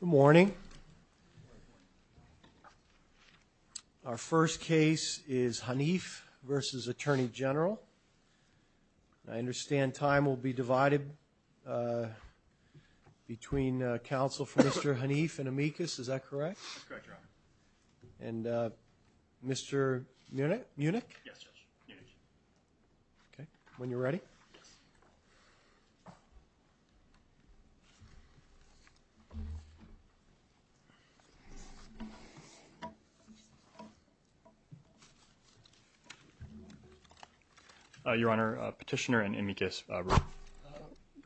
Good morning. Our first case is Hanif versus Attorney General. I understand time will be divided between counsel for Mr. Hanif and Amicus, is that correct? That's correct, Your Honor. And Mr. Munich? Yes, Judge. Okay, when you're ready. Your Honor, Petitioner and Amicus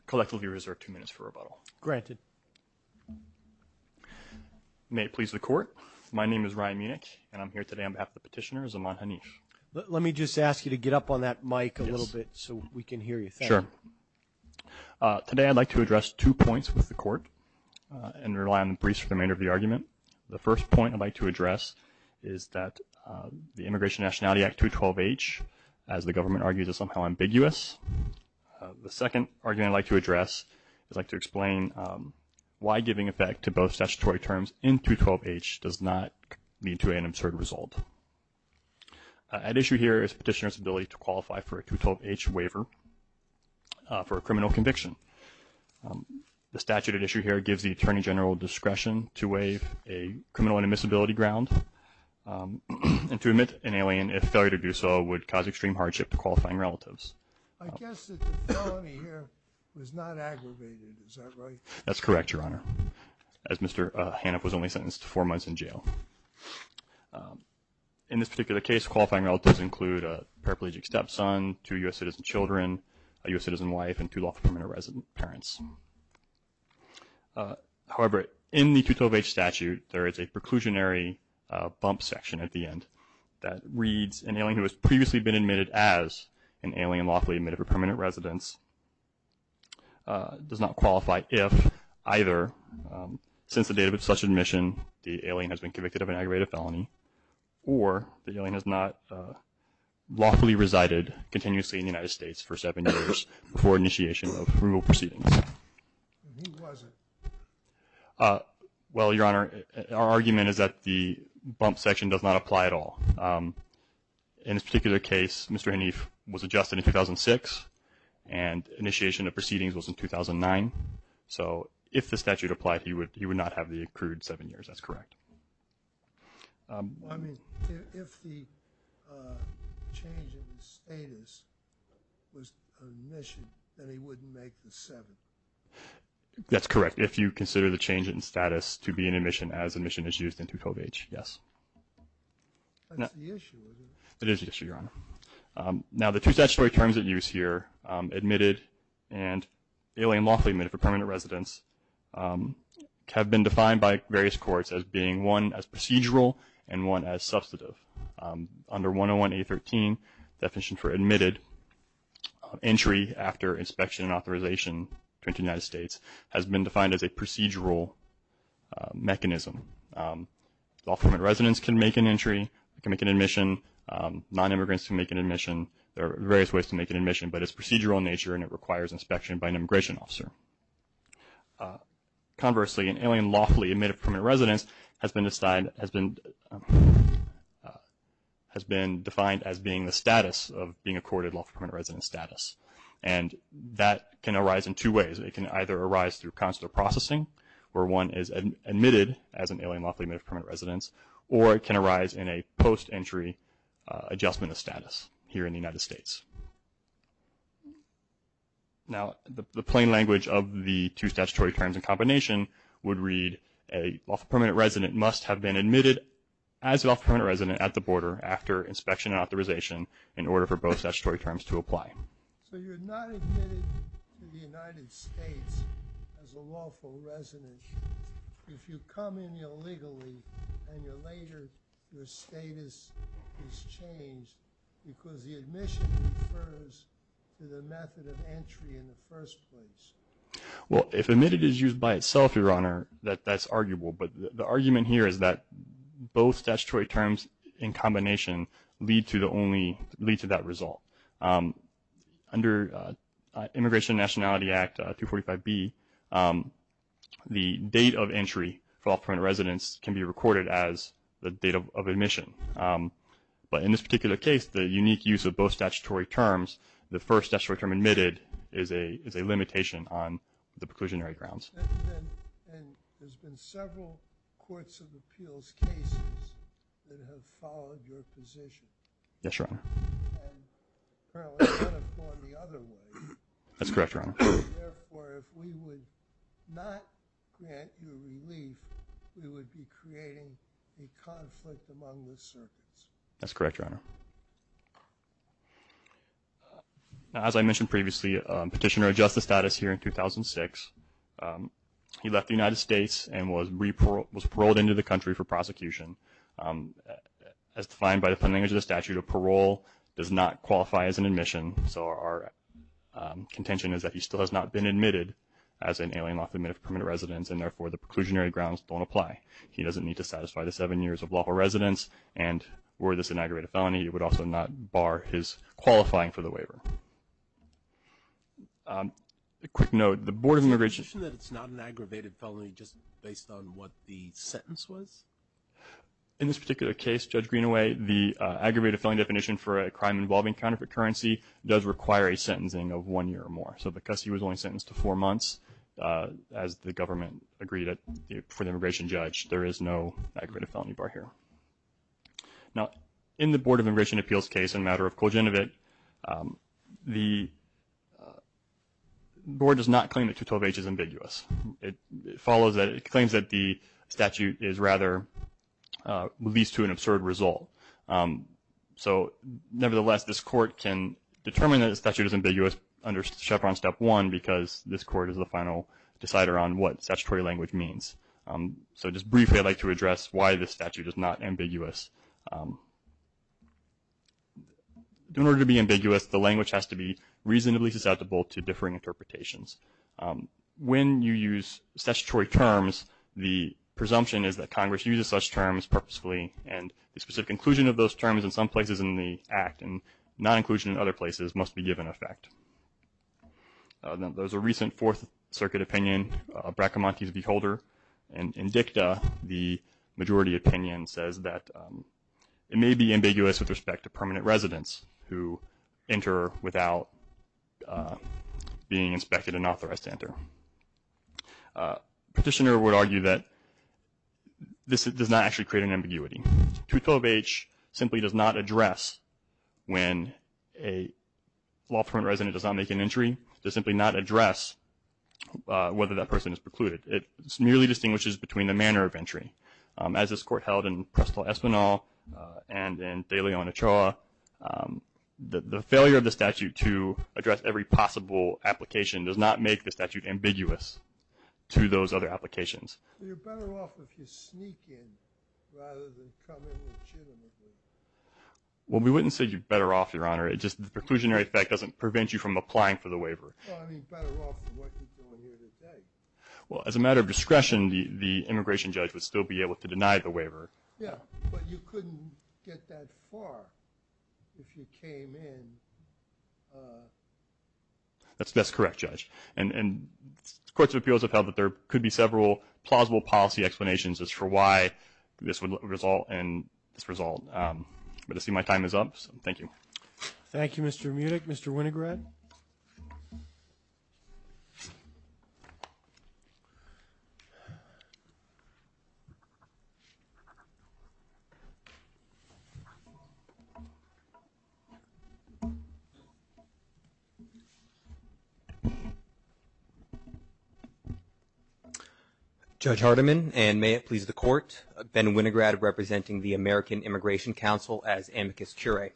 collectively reserve two minutes for rebuttal. Granted. May it please the Court, my name is Ryan Munich and I'm here today on behalf of the Petitioner, Zaman Hanif. Let me just ask you to get up on that mic a little bit so we can hear you. Sure. Today I'd like to address two points with the Court and rely on the briefs for the remainder of the argument. The first point I'd like to address is that the Immigration and Nationality Act 212H, as the government argues, is somehow ambiguous. The second argument I'd like to address is I'd like to explain why giving effect to both statutory terms in 212H does not lead to an absurd result. At issue here is Petitioner's ability to qualify for a 212H waiver for a criminal conviction. The statute at issue here gives the Attorney General discretion to waive a criminal inadmissibility ground and to admit an alien, if failure to do so, would cause extreme hardship to qualifying relatives. I guess that the felony here was not aggravated, is that right? That's correct, Your Honor, as Mr. Hanif was only sentenced to four months in jail. In this particular case, qualifying relatives include a paraplegic stepson, two U.S. citizen children, a U.S. citizen wife, and two lawful permanent resident parents. However, in the 212H statute, there is a preclusionary bump section at the end that reads, an alien who has previously been admitted as an alien lawfully admitted for permanent residence does not qualify if either since the date of such admission, the alien has been convicted of an aggravated felony or the alien has not lawfully resided continuously in the United States for seven years before initiation of approval proceedings. Who was it? Well, Your Honor, our argument is that the bump section does not apply at all. In this particular case, Mr. Hanif was adjusted in 2006 and initiation of proceedings was in 2009. So, if the statute applied, he would not have the accrued seven years, that's correct. I mean, if the change in the status was admission then he wouldn't make the seven. That's correct. If you consider the change in status to be an admission as admission is used in 212H, yes. That's the issue, isn't it? It is the issue, Your Honor. Now, the two statutory terms at use here, admitted and alien lawfully admitted for permanent residence, have been defined by various courts as being one as procedural and one as substantive. Under 101A13, definition for admitted, entry after inspection and authorization to enter the United States has been defined as a procedural mechanism. Lawful permanent residence can make an entry, can make an admission, non-immigrants can make an admission. There are various ways to make an admission, but it's procedural in nature and it requires inspection by an immigration officer. Conversely, an alien lawfully admitted for permanent residence has been defined as being the status of being admitted. That can arise in two ways. It can either arise through consular processing, where one is admitted as an alien lawfully admitted for permanent residence, or it can arise in a post-entry adjustment of status here in the United States. Now, the plain language of the two statutory terms in combination would read a lawful permanent resident must have been admitted as a lawful permanent resident at the border after inspection and authorization in order for both statutory terms to apply. So you're not admitted to the United States as a lawful resident. If you come in illegally and you're later, your status is changed because the admission refers to the method of entry in the first place. Well, if admitted is used by itself, Your Honor, that's arguable. But the argument here is that both statutory terms in combination lead to that result. Under Immigration and Nationality Act 245B, the date of entry for lawful permanent residents can be recorded as the date of admission. But in this particular case, the unique use of both statutory terms, the first statutory term admitted, is a limitation on the preclusionary grounds. And there's been several Courts of Appeals cases that have followed your position. Yes, Your Honor. And apparently could have gone the other way. That's correct, Your Honor. Therefore, if we would not grant you relief, we would be creating a conflict among the circuits. That's correct, Your Honor. Now, as I mentioned previously, Petitioner adjusts the status here in 2006. He left the United States and was paroled into the country for prosecution. As defined by the plain language of the statute, a parole does not qualify as an admission. So our contention is that he still has not been admitted as an alien lawfully admitted permanent resident, and therefore the preclusionary grounds don't apply. He doesn't need to satisfy the seven years of lawful residence. And were this an aggravated felony, it would also not bar his qualifying for the waiver. A quick note, the Board of Immigration— Did you mention that it's not an aggravated felony just based on what the sentence was? In this particular case, Judge Greenaway, the aggravated felony definition for a crime involving counterfeit currency does require a sentencing of one year or more. So because he was only sentenced to four months, as the government agreed for the immigration judge, there is no aggravated felony bar here. Now, in the Board of Immigration Appeals case in the matter of Kuljinovic, the Board does not claim that 212H is ambiguous. It claims that the statute is rather—leads to an absurd result. So nevertheless, this court can determine that the statute is ambiguous under Chevron Step 1 because this court is the final decider on what statutory language means. So just briefly, I'd like to address why this statute is not ambiguous. In order to be ambiguous, the language has to be reasonably susceptible to differing interpretations. When you use statutory terms, the presumption is that Congress uses such terms purposefully, and the specific inclusion of those terms in some places in the act and non-inclusion in other places must be given effect. Now, there's a recent Fourth Circuit opinion, Bracamonte's v. Holder. In dicta, the majority opinion says that it may be ambiguous with respect to permanent residents who enter without being inspected and authorized to enter. Petitioner would argue that this does not actually create an ambiguity. 212H simply does not address when a lawful resident does not make an entry. It does simply not address whether that person is precluded. It merely distinguishes between the manner of entry. As this court held in Presto Espanol and in De Leon Ochoa, the failure of the statute to address every possible application does not make the statute ambiguous to those other applications. You're better off if you sneak in rather than come in legitimately. Well, we wouldn't say you're better off, Your Honor. It's just the preclusionary effect doesn't prevent you from applying for the waiver. Well, I mean better off than what you're doing here today. Well, as a matter of discretion, the immigration judge would still be able to deny the waiver. Yeah, but you couldn't get that far if you came in. That's correct, Judge. And courts of appeals have held that there could be several plausible policy explanations as for why this would result in this result. But I see my time is up, so thank you. Thank you, Mr. Munich. Mr. Winograd. Judge Hardiman, and may it please the Court, Ben Winograd representing the American Immigration Council as amicus curiae.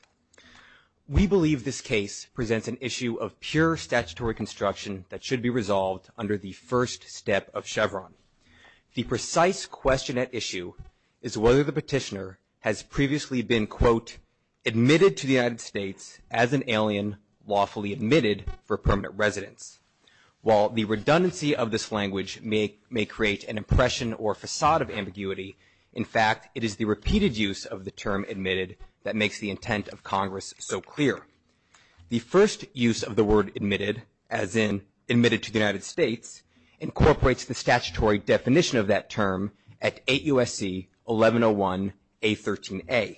We believe this case presents an issue of pure statutory construction that should be resolved under the first step of Chevron. The precise question at issue is whether the petitioner has previously been, quote, admitted to the United States as an alien lawfully admitted for permanent residence. While the redundancy of this language may create an impression or facade of ambiguity, in fact, it is the repeated use of the term admitted that makes the intent of Congress so clear. The first use of the word admitted, as in admitted to the United States, incorporates the statutory definition of that term at 8 U.S.C. 1101A13A.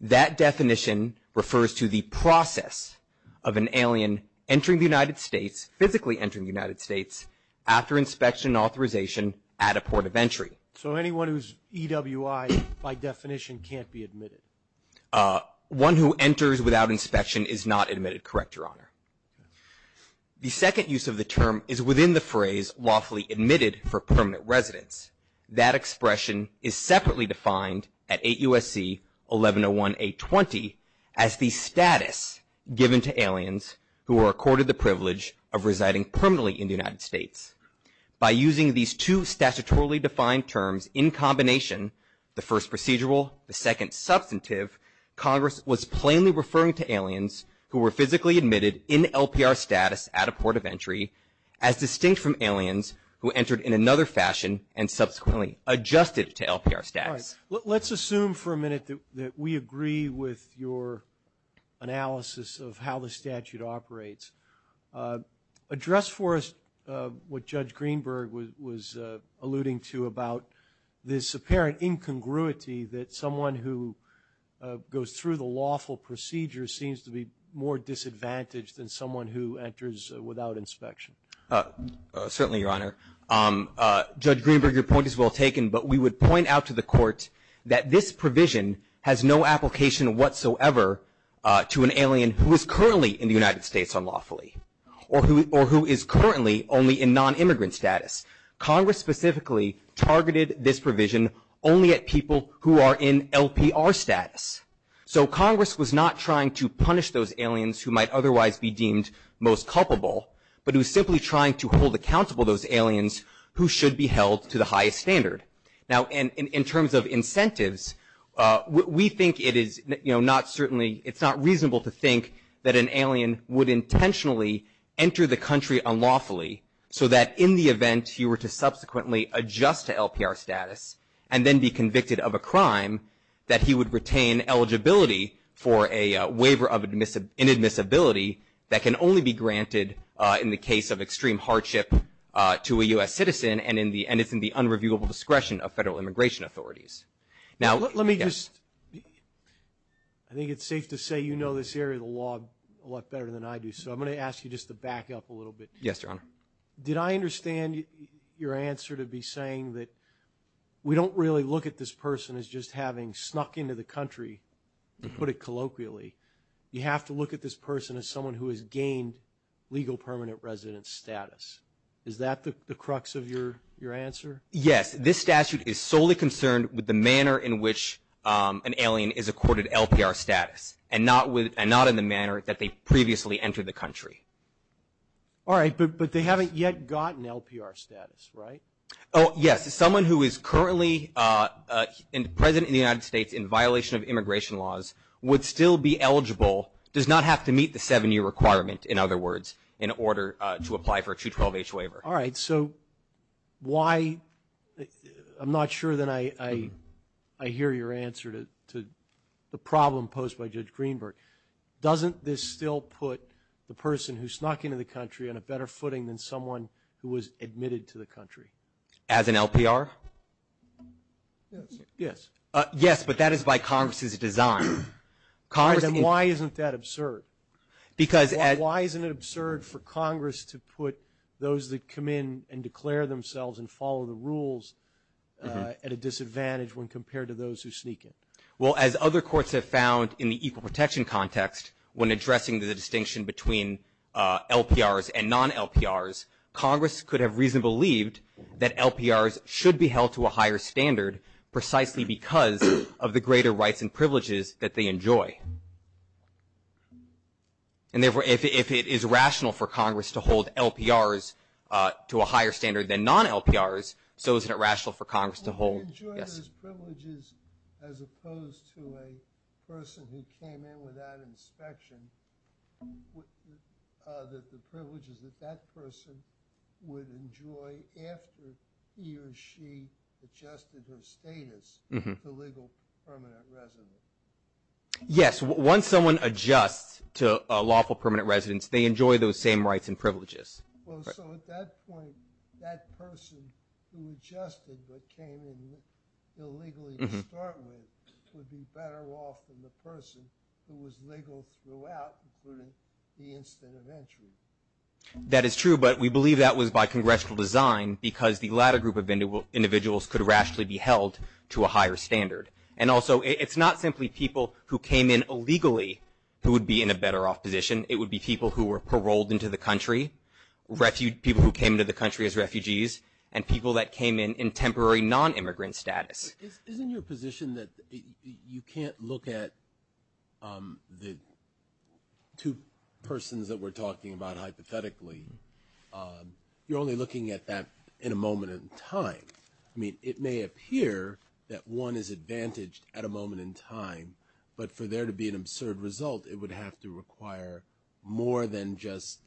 That definition refers to the process of an alien entering the United States, physically entering the United States, after inspection and authorization at a port of entry. So anyone who's EWI by definition can't be admitted? One who enters without inspection is not admitted, correct, Your Honor. The second use of the term is within the phrase lawfully admitted for permanent residence. That expression is separately defined at 8 U.S.C. 1101A20 as the status given to aliens who are accorded the privilege of residing permanently in the United States. By using these two statutorily defined terms in combination, the first procedural, the second substantive, Congress was plainly referring to aliens who were physically admitted in LPR status at a port of entry as distinct from aliens who entered in another fashion and subsequently adjusted to LPR status. All right. Let's assume for a minute that we agree with your analysis of how the statute operates. Address for us what Judge Greenberg was alluding to about this apparent incongruity that someone who goes through the lawful procedure seems to be more disadvantaged than someone who enters without inspection. Certainly, Your Honor. Judge Greenberg, your point is well taken, but we would point out to the Court that this provision has no application whatsoever to an alien who is currently in the United States unlawfully or who is currently only in non-immigrant status. Congress specifically targeted this provision only at people who are in LPR status. So Congress was not trying to punish those aliens who might otherwise be deemed most culpable, but it was simply trying to hold accountable those aliens who should be held to the highest standard. Now, in terms of incentives, we think it is not certainly, it's not reasonable to think that an alien would intentionally enter the country unlawfully, so that in the event he were to subsequently adjust to LPR status and then be convicted of a crime, that he would retain eligibility for a waiver of inadmissibility that can only be granted in the case of extreme discretion of federal immigration authorities. Let me just, I think it's safe to say you know this area of the law a lot better than I do, so I'm going to ask you just to back up a little bit. Yes, Your Honor. Did I understand your answer to be saying that we don't really look at this person as just having snuck into the country, to put it colloquially. You have to look at this person as someone who has gained legal permanent residence status. Is that the crux of your answer? Yes, this statute is solely concerned with the manner in which an alien is accorded LPR status and not in the manner that they previously entered the country. All right, but they haven't yet gotten LPR status, right? Oh, yes. Someone who is currently President of the United States in violation of immigration laws would still be eligible, does not have to meet the seven-year requirement, in other words, in order to apply for a 212H waiver. All right, so why – I'm not sure that I hear your answer to the problem posed by Judge Greenberg. Doesn't this still put the person who snuck into the country on a better footing than someone who was admitted to the country? As an LPR? Yes. Yes, but that is by Congress's design. Then why isn't that absurd? Why isn't it absurd for Congress to put those that come in and declare themselves and follow the rules at a disadvantage when compared to those who sneak in? Well, as other courts have found in the equal protection context, when addressing the distinction between LPRs and non-LPRs, Congress could have reasonably believed that LPRs should be held to a higher standard precisely because of the greater rights and privileges that they enjoy. And therefore, if it is rational for Congress to hold LPRs to a higher standard than non-LPRs, so isn't it rational for Congress to hold – yes? – as opposed to a person who came in without inspection, the privileges that that person would enjoy after he or she adjusted her status to legal permanent residence? Yes. Once someone adjusts to lawful permanent residence, they enjoy those same rights and privileges. Well, so at that point, that person who adjusted but came in illegally to start with would be better off than the person who was legal throughout, including the instant of entry. That is true, but we believe that was by congressional design because the latter group of individuals could rationally be held to a higher standard. And also, it's not simply people who came in illegally who would be in a better off position. It would be people who were paroled into the country, people who came into the country as refugees, and people that came in in temporary non-immigrant status. Isn't your position that you can't look at the two persons that we're talking about hypothetically? You're only looking at that in a moment in time. I mean, it may appear that one is advantaged at a moment in time, but for there to be an absurd result, it would have to require more than just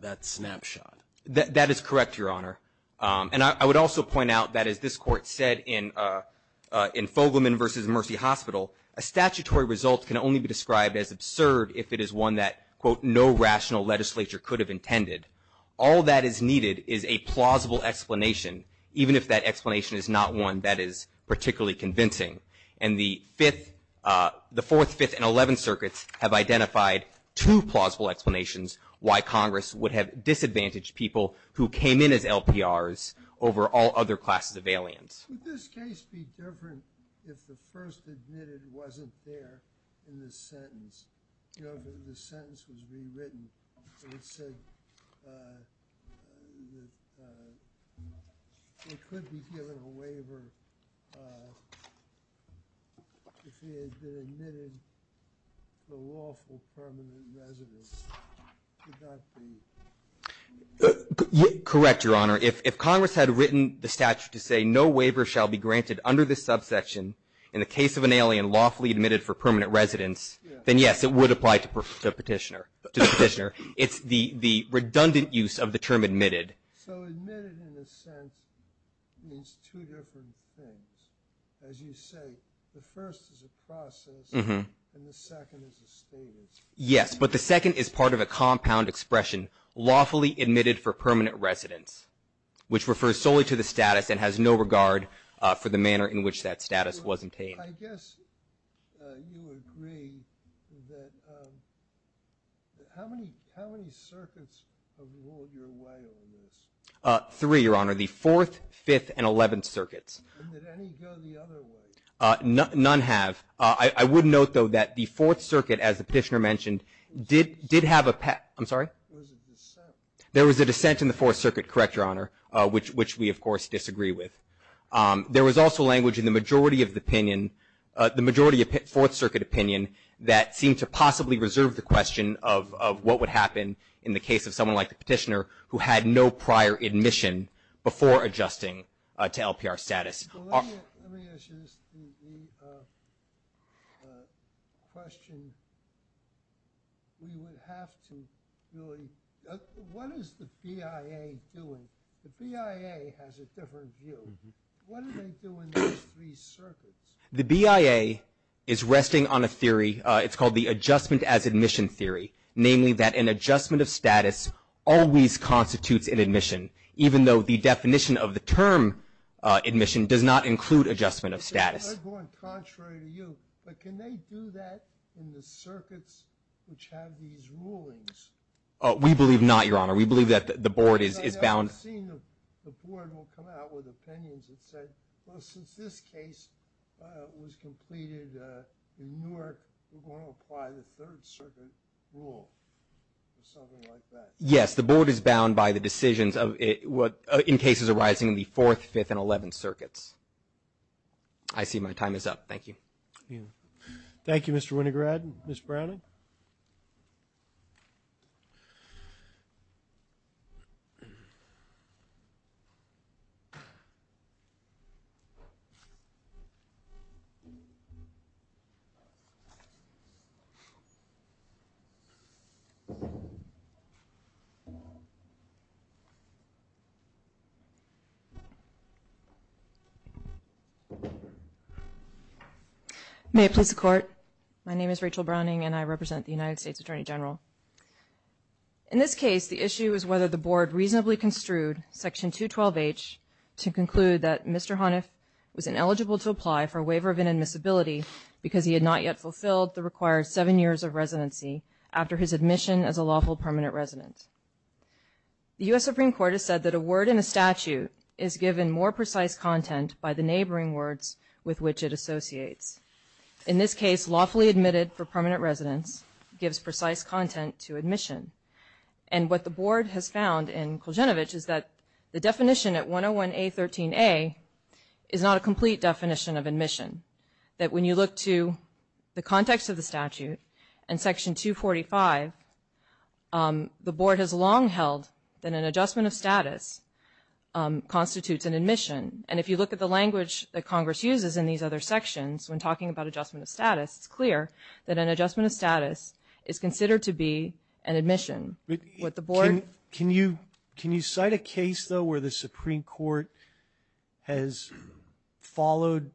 that snapshot. That is correct, Your Honor. And I would also point out that, as this Court said in Fogelman v. Mercy Hospital, a statutory result can only be described as absurd if it is one that, quote, no rational legislature could have intended. All that is needed is a plausible explanation, even if that explanation is not one that is particularly convincing. And the Fourth, Fifth, and Eleventh Circuits have identified two plausible explanations why Congress would have disadvantaged people who came in as LPRs over all other classes of aliens. Would this case be different if the first admitted wasn't there in the sentence? You know, if the sentence was rewritten and it said that it could be given a waiver if he had been admitted for lawful permanent residence, could that be? Correct, Your Honor. If Congress had written the statute to say no waiver shall be granted under this subsection in the case of an alien lawfully admitted for permanent residence, then yes, it would apply to the petitioner. It's the redundant use of the term admitted. So admitted in a sense means two different things. As you say, the first is a process and the second is a status. Yes, but the second is part of a compound expression, lawfully admitted for permanent residence, which refers solely to the status and has no regard for the manner in which that status was obtained. I guess you agree that how many circuits have ruled your way on this? Three, Your Honor, the Fourth, Fifth, and Eleventh Circuits. Did any go the other way? None have. I would note, though, that the Fourth Circuit, as the petitioner mentioned, did have a path. I'm sorry? There was a dissent. There was a dissent in the Fourth Circuit, correct, Your Honor, which we, of course, disagree with. There was also language in the majority of the opinion, the majority of Fourth Circuit opinion, that seemed to possibly reserve the question of what would happen in the case of someone like the petitioner who had no prior admission before adjusting to LPR status. Well, let me ask you this question. We would have to do a – what is the BIA doing? The BIA has a different view. What do they do in those three circuits? The BIA is resting on a theory. It's called the Adjustment as Admission Theory, namely that an adjustment of status always constitutes an admission, even though the definition of the term admission does not include adjustment of status. I'm going contrary to you, but can they do that in the circuits which have these rulings? We believe not, Your Honor. We believe that the Board is bound. I've seen the Board will come out with opinions that say, well, since this case was completed in Newark, we're going to apply the Third Circuit rule or something like that. Yes, the Board is bound by the decisions in cases arising in the Fourth, Fifth, and Eleventh Circuits. I see my time is up. Thank you. Thank you, Mr. Winograd. Ms. Browning? May it please the Court, my name is Rachel Browning, and I represent the United States Attorney General. In this case, the issue is whether the Board reasonably construed Section 212H to conclude that Mr. Honiff was ineligible to apply for a waiver of inadmissibility because he had not yet fulfilled the required seven years of residency after his admission as a lawful permanent resident. The U.S. Supreme Court has said that a word in a statute is given more precise content by the neighboring words with which it associates. In this case, lawfully admitted for permanent residence gives precise content to admission. And what the Board has found in Kuljinovic is that the definition at 101A.13a is not a complete definition of admission, that when you look to the context of the statute and Section 245, the Board has long held that an adjustment of status constitutes an admission. And if you look at the language that Congress uses in these other sections when talking about adjustment of status, it's clear that an adjustment of status is considered to be an admission. Can you cite a case, though, where the Supreme Court has followed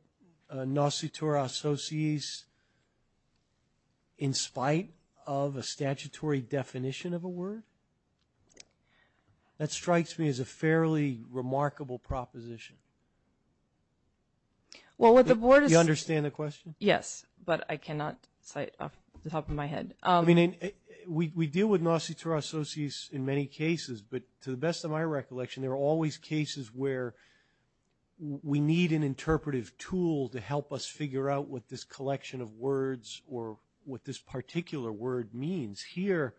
nositura associis in spite of a statutory definition of a word? That strikes me as a fairly remarkable proposition. You understand the question? Yes, but I cannot cite off the top of my head. I mean, we deal with nositura associis in many cases, but to the best of my recollection, there are always cases where we need an interpretive tool to help us figure out what this collection of words or what this particular word means. Here,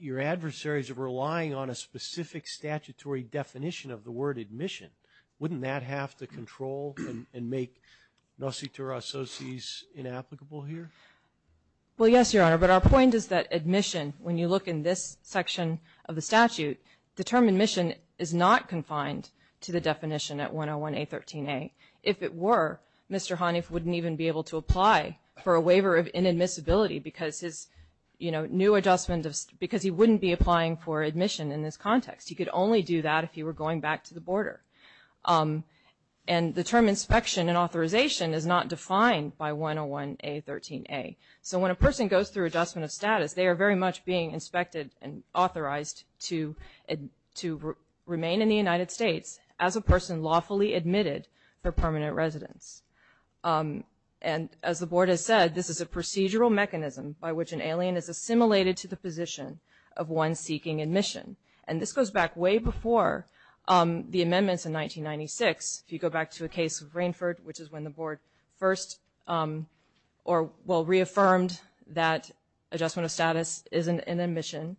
your adversaries are relying on a specific statutory definition of the word admission. Wouldn't that have to control and make nositura associis inapplicable here? Well, yes, Your Honor, but our point is that admission, when you look in this section of the statute, the term admission is not confined to the definition at 101A13a. If it were, Mr. Haniff wouldn't even be able to apply for a waiver of inadmissibility because he wouldn't be applying for admission in this context. He could only do that if he were going back to the border. And the term inspection and authorization is not defined by 101A13a. So when a person goes through adjustment of status, they are very much being inspected and authorized to remain in the United States as a person lawfully admitted for permanent residence. And as the Board has said, this is a procedural mechanism by which an alien is assimilated to the position of one seeking admission. And this goes back way before the amendments in 1996. If you go back to a case of Rainford, which is when the Board first, well, reaffirmed that adjustment of status is an admission.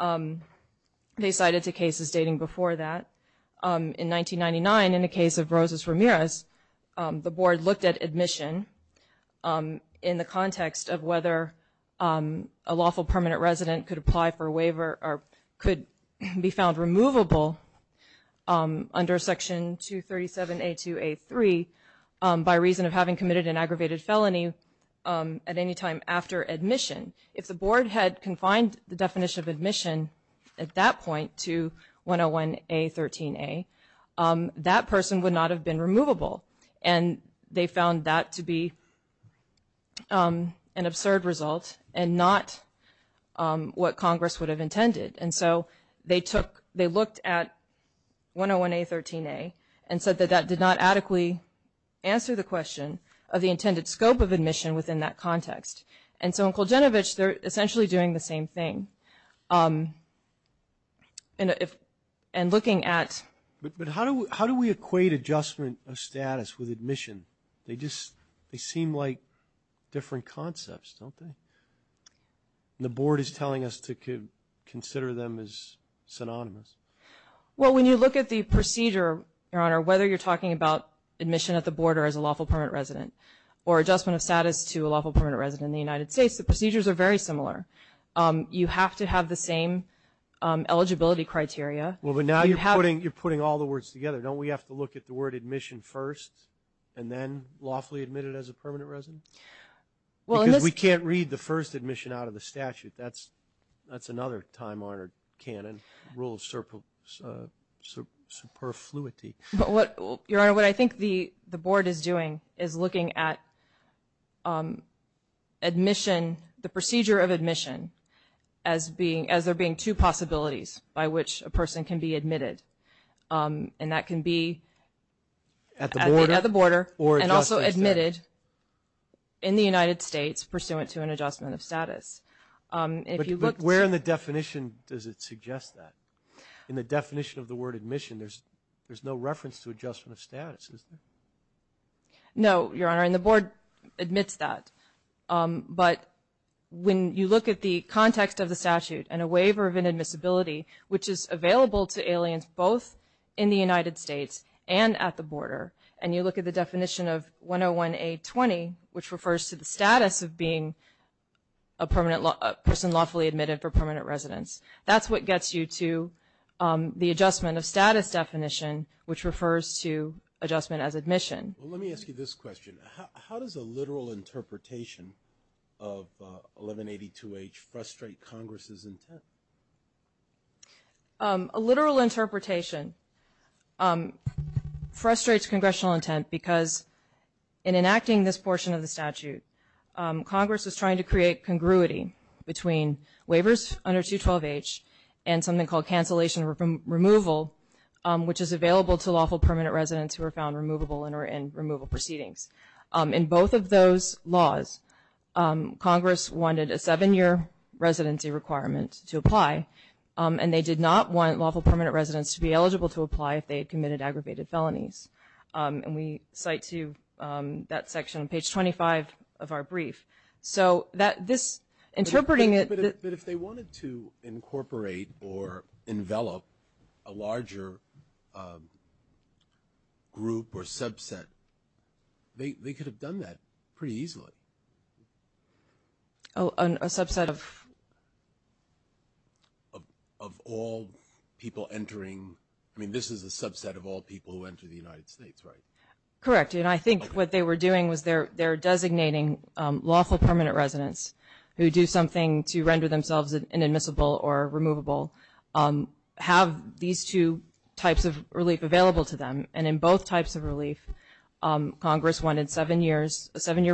They cited two cases dating before that. In 1999, in the case of Rosas Ramirez, the Board looked at admission in the context of whether a lawful permanent resident could apply for a waiver or could be found removable under Section 237A2A3 by reason of having committed an aggravated felony at any time after admission. If the Board had confined the definition of admission at that point to 101A13a, that person would not have been removable. And they found that to be an absurd result and not what Congress would have intended. And so they took, they looked at 101A13a and said that that did not adequately answer the question of the intended scope of admission within that context. And so in Kuljinovic, they're essentially doing the same thing. And looking at – But how do we equate adjustment of status with admission? They just, they seem like different concepts, don't they? The Board is telling us to consider them as synonymous. Well, when you look at the procedure, Your Honor, whether you're talking about admission at the Board or as a lawful permanent resident or adjustment of status to a lawful permanent resident in the United States, the procedures are very similar. You have to have the same eligibility criteria. Well, but now you're putting all the words together. Don't we have to look at the word admission first and then lawfully admitted as a permanent resident? Because we can't read the first admission out of the statute. That's another time-honored canon rule of superfluity. Your Honor, what I think the Board is doing is looking at admission, the procedure of admission as there being two possibilities by which a person can be admitted. And that can be at the border and also admitted in the United States, pursuant to an adjustment of status. But where in the definition does it suggest that? In the definition of the word admission, there's no reference to adjustment of status, is there? No, Your Honor, and the Board admits that. But when you look at the context of the statute and a waiver of inadmissibility, which is available to aliens both in the United States and at the border, and you look at the definition of 101A20, which refers to the status of being a person lawfully admitted for permanent residence, that's what gets you to the adjustment of status definition, which refers to adjustment as admission. Well, let me ask you this question. How does a literal interpretation of 1182H frustrate Congress's intent? A literal interpretation frustrates congressional intent because in enacting this portion of the statute, Congress was trying to create congruity between waivers under 212H and something called cancellation removal, which is available to lawful permanent residents who are found removable and are in removal proceedings. In both of those laws, Congress wanted a seven-year residency requirement to apply, and they did not want lawful permanent residents to be eligible to apply if they had committed aggravated felonies. And we cite to you that section on page 25 of our brief. So this interpreting it – But if they wanted to incorporate or envelop a larger group or subset, they could have done that pretty easily. A subset of? Of all people entering – I mean, this is a subset of all people who enter the United States, right? Correct. And I think what they were doing was they're designating lawful permanent residents who do something to render themselves inadmissible or removable, have these two types of relief available to them. And in both types of relief, Congress wanted a seven-year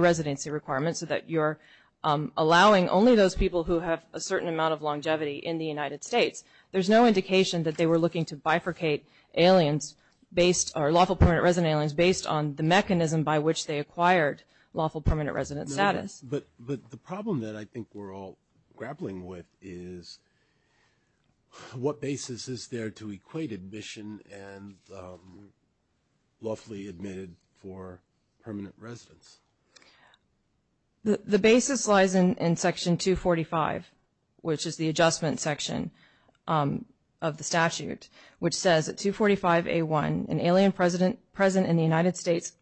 residency requirement so that you're allowing only those people who have a certain amount of longevity in the United States. There's no indication that they were looking to bifurcate aliens based – or lawful permanent resident aliens based on the mechanism by which they acquired lawful permanent resident status. But the problem that I think we're all grappling with is what basis is there to equate admission and lawfully admitted for permanent residence? The basis lies in section 245, which is the adjustment section of the statute, which says that 245A1, an alien present in the United States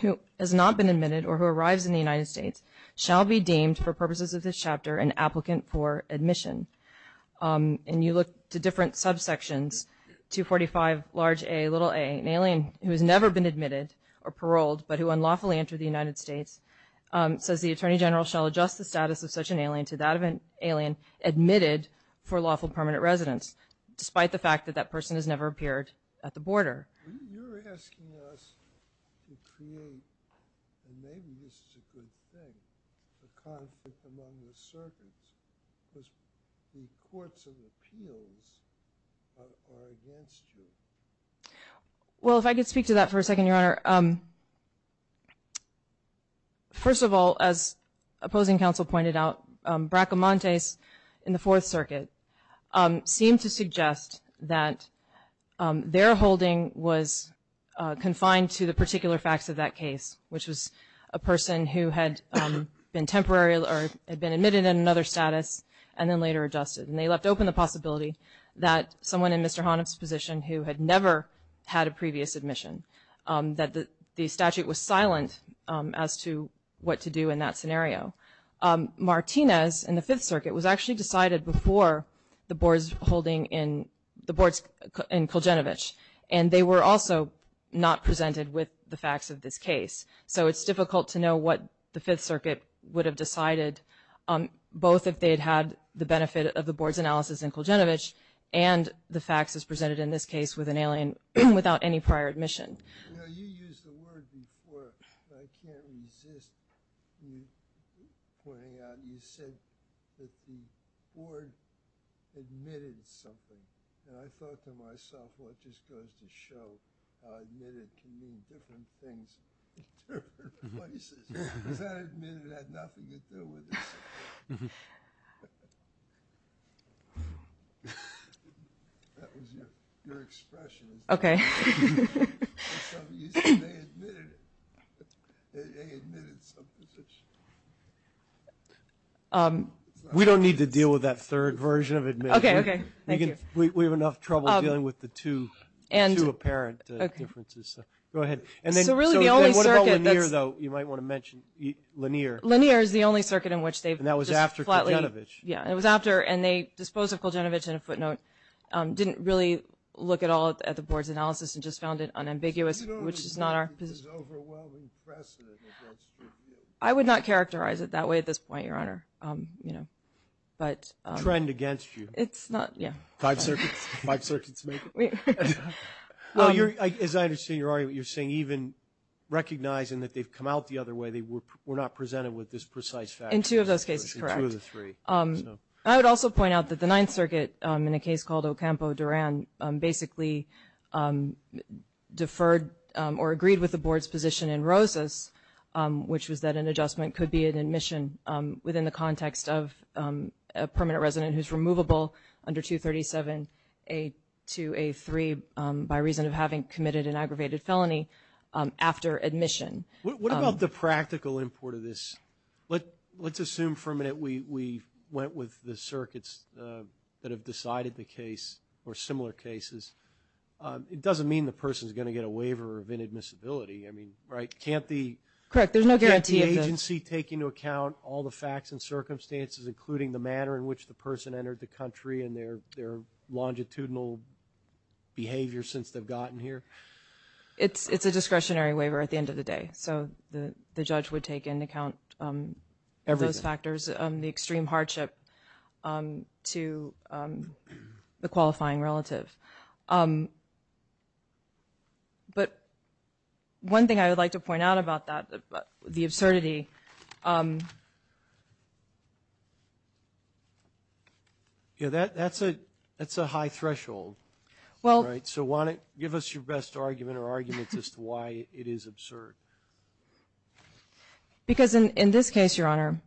who has not been admitted or who arrives in the United States shall be deemed for purposes of this chapter an applicant for admission. And you look to different subsections, 245Aa, an alien who has never been admitted or paroled but who unlawfully entered the United States, says the Attorney General shall adjust the status of such an alien to that of an alien admitted for lawful permanent residence, despite the fact that that person has never appeared at the border. You're asking us to create – and maybe this is a good thing – a conflict among the circuits because the courts of appeals are against you. Well, if I could speak to that for a second, Your Honor. First of all, as opposing counsel pointed out, Bracamontes in the Fourth Circuit seemed to suggest that their holding was confined to the particular facts of that case, which was a person who had been admitted in another status and then later adjusted. And they left open the possibility that someone in Mr. Honov's position who had never had a previous admission, that the statute was silent as to what to do in that scenario. Martinez in the Fifth Circuit was actually decided before the boards in Kuljinovich, and they were also not presented with the facts of this case. So it's difficult to know what the Fifth Circuit would have decided, both if they had had the benefit of the board's analysis in Kuljinovich and the facts as presented in this case with an alien without any prior admission. You know, you used the word before, and I can't resist pointing out, you said that the board admitted something. And I thought to myself, well, it just goes to show how admitted can mean different things in different places. Is that admitted had nothing to do with this? That was your expression. Okay. They admitted it. They admitted some position. We don't need to deal with that third version of admitted. Okay, okay. Thank you. We have enough trouble dealing with the two apparent differences. Go ahead. So really the only circuit that's – So what about Lanier, though? You might want to mention Lanier. Lanier is the only circuit in which they've just flatly – And that was after Kuljinovich. Yeah, and it was after – and they disposed of Kuljinovich in a footnote, didn't really look at all at the board's analysis and just found it unambiguous, which is not our position. Do you know if it's overwhelming precedent that that's true? I would not characterize it that way at this point, Your Honor. Trend against you. It's not – yeah. Five circuits. Five circuits. Well, as I understand your argument, you're saying even recognizing that they've come out the other way, they were not presented with this precise fact. In two of those cases, correct. In two of the three. I would also point out that the Ninth Circuit, in a case called Ocampo-Duran, basically deferred or agreed with the board's position in Rosas, which was that an adjustment could be an admission within the context of a permanent resident who's removable under 237A2A3 by reason of having committed an aggravated felony after admission. What about the practical import of this? Let's assume for a minute we went with the circuits that have decided the case or similar cases. It doesn't mean the person's going to get a waiver of inadmissibility. I mean, right? Can't the agency take into account all the facts and circumstances, including the manner in which the person entered the country and their longitudinal behavior since they've gotten here? It's a discretionary waiver at the end of the day. So the judge would take into account those factors, the extreme hardship to the qualifying relative. But one thing I would like to point out about that, the absurdity. Yeah, that's a high threshold, right? So give us your best argument or arguments as to why it is absurd. Because in this case, Your Honor,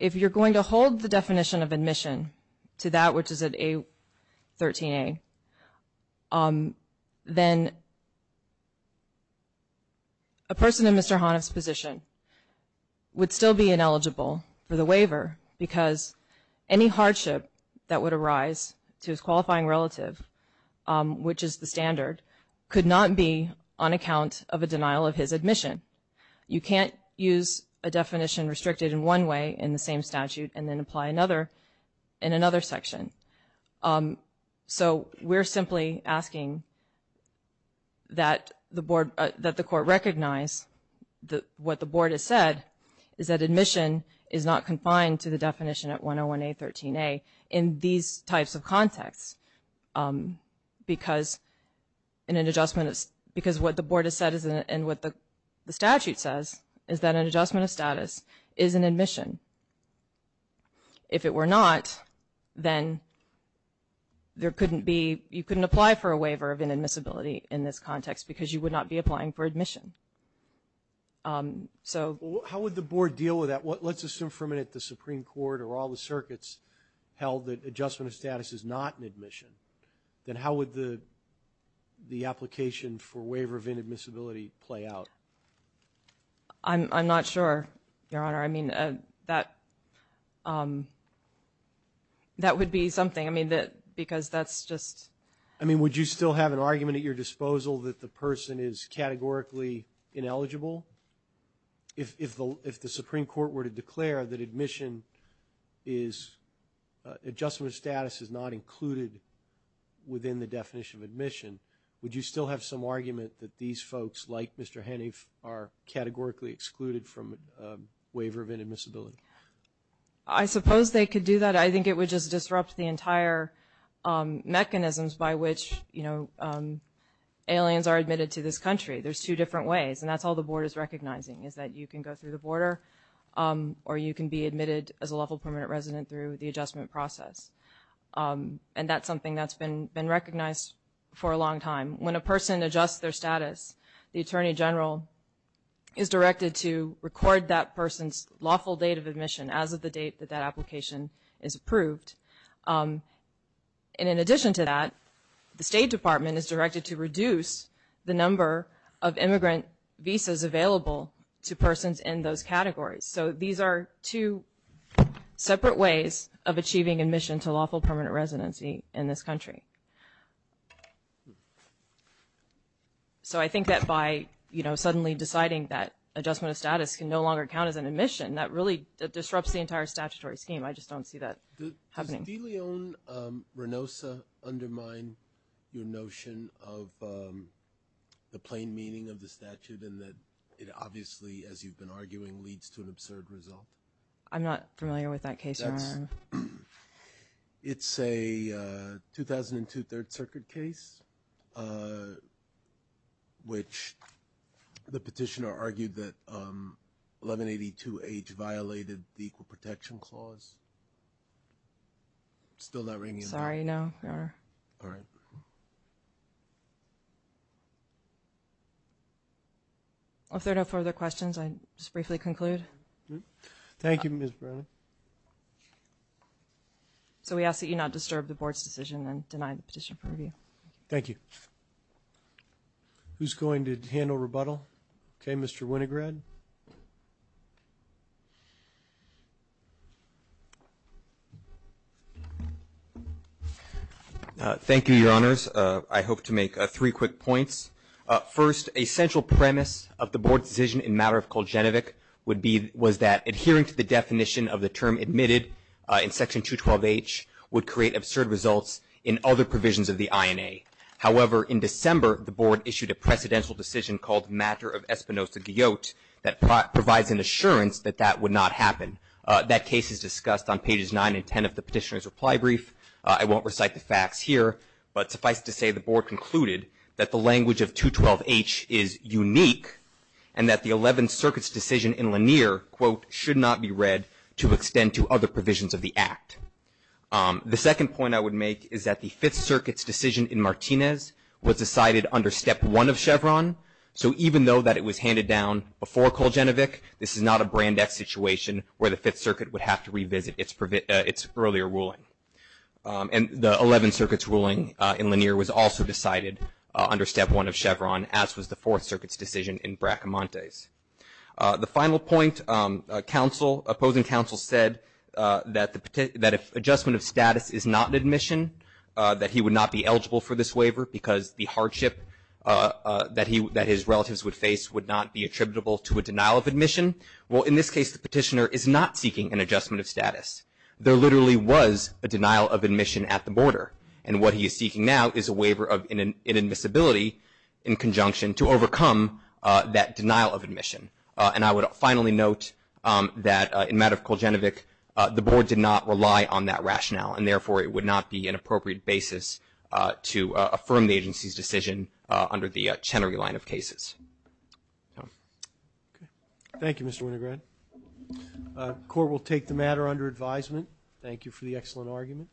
if you're going to hold the definition of admission to that which is at A13A, then a person in Mr. Honiff's position would still be ineligible for the waiver because any hardship that would arise to his qualifying relative, which is the standard, could not be on account of a denial of his admission. You can't use a definition restricted in one way in the same statute and then apply another in another section. So we're simply asking that the court recognize that what the board has said is that admission is not confined to the definition at 101A, 13A in these types of contexts because what the board has said and what the statute says is that an adjustment of status is an admission. If it were not, then you couldn't apply for a waiver of inadmissibility in this context because you would not be applying for admission. How would the board deal with that? Let's assume for a minute the Supreme Court or all the circuits held that adjustment of status is not an admission. Then how would the application for waiver of inadmissibility play out? I'm not sure, Your Honor. I mean, that would be something. I mean, because that's just... I mean, would you still have an argument at your disposal that the person is categorically ineligible? If the Supreme Court were to declare that admission is... adjustment of status is not included within the definition of admission, would you still have some argument that these folks, like Mr. Hennie, are categorically excluded from waiver of inadmissibility? I suppose they could do that. I think it would just disrupt the entire mechanisms by which, you know, aliens are admitted to this country. There's two different ways, and that's all the board is recognizing, is that you can go through the border or you can be admitted as a lawful permanent resident through the adjustment process. And that's something that's been recognized for a long time. When a person adjusts their status, the Attorney General is directed to record that person's lawful date of admission as of the date that that application is approved. And in addition to that, the State Department is directed to reduce the number of immigrant visas available to persons in those categories. So these are two separate ways of achieving admission to lawful permanent residency in this country. So I think that by, you know, suddenly deciding that adjustment of status can no longer count as an admission, that really disrupts the entire statutory scheme. I just don't see that happening. Did De Leon-Renosa undermine your notion of the plain meaning of the statute and that it obviously, as you've been arguing, leads to an absurd result? I'm not familiar with that case, Your Honor. It's a 2002 Third Circuit case, which the petitioner argued that 1182H violated the Equal Protection Clause. Still not ringing in? Sorry, no, Your Honor. All right. If there are no further questions, I'll just briefly conclude. Thank you, Ms. Brown. So we ask that you not disturb the Board's decision and deny the petition for review. Thank you. Who's going to handle rebuttal? Okay, Mr. Winograd. Thank you, Your Honors. I hope to make three quick points. First, a central premise of the Board's decision in matter of Kuljinovic was that adhering to the definition of the term admitted in Section 212H would create absurd results in other provisions of the INA. However, in December, the Board issued a precedential decision called Matter of Espinosa-Guyot that provides an assurance that that would not happen. That case is discussed on pages 9 and 10 of the petitioner's reply brief. I won't recite the facts here, but suffice to say the Board concluded that the language of 212H is unique and that the Eleventh Circuit's decision in Lanier, quote, should not be read to extend to other provisions of the Act. The second point I would make is that the Fifth Circuit's decision in Martinez was decided under Step 1 of Chevron. So even though that it was handed down before Kuljinovic, this is not a brand X situation where the Fifth Circuit would have to revisit its earlier ruling. And the Eleventh Circuit's ruling in Lanier was also decided under Step 1 of Chevron, as was the Fourth Circuit's decision in Bracamontes. The final point, opposing counsel said that if adjustment of status is not an admission, that he would not be eligible for this waiver because the hardship that his relatives would face would not be attributable to a denial of admission. Well, in this case, the petitioner is not seeking an adjustment of status. There literally was a denial of admission at the border, and what he is seeking now is a waiver of inadmissibility in conjunction to overcome that denial of admission. And I would finally note that in the matter of Kuljinovic, the Board did not rely on that rationale, and therefore it would not be an appropriate basis to affirm the agency's decision under the Chenery line of cases. Thank you, Mr. Winograd. The Court will take the matter under advisement. Thank you for the excellent argument.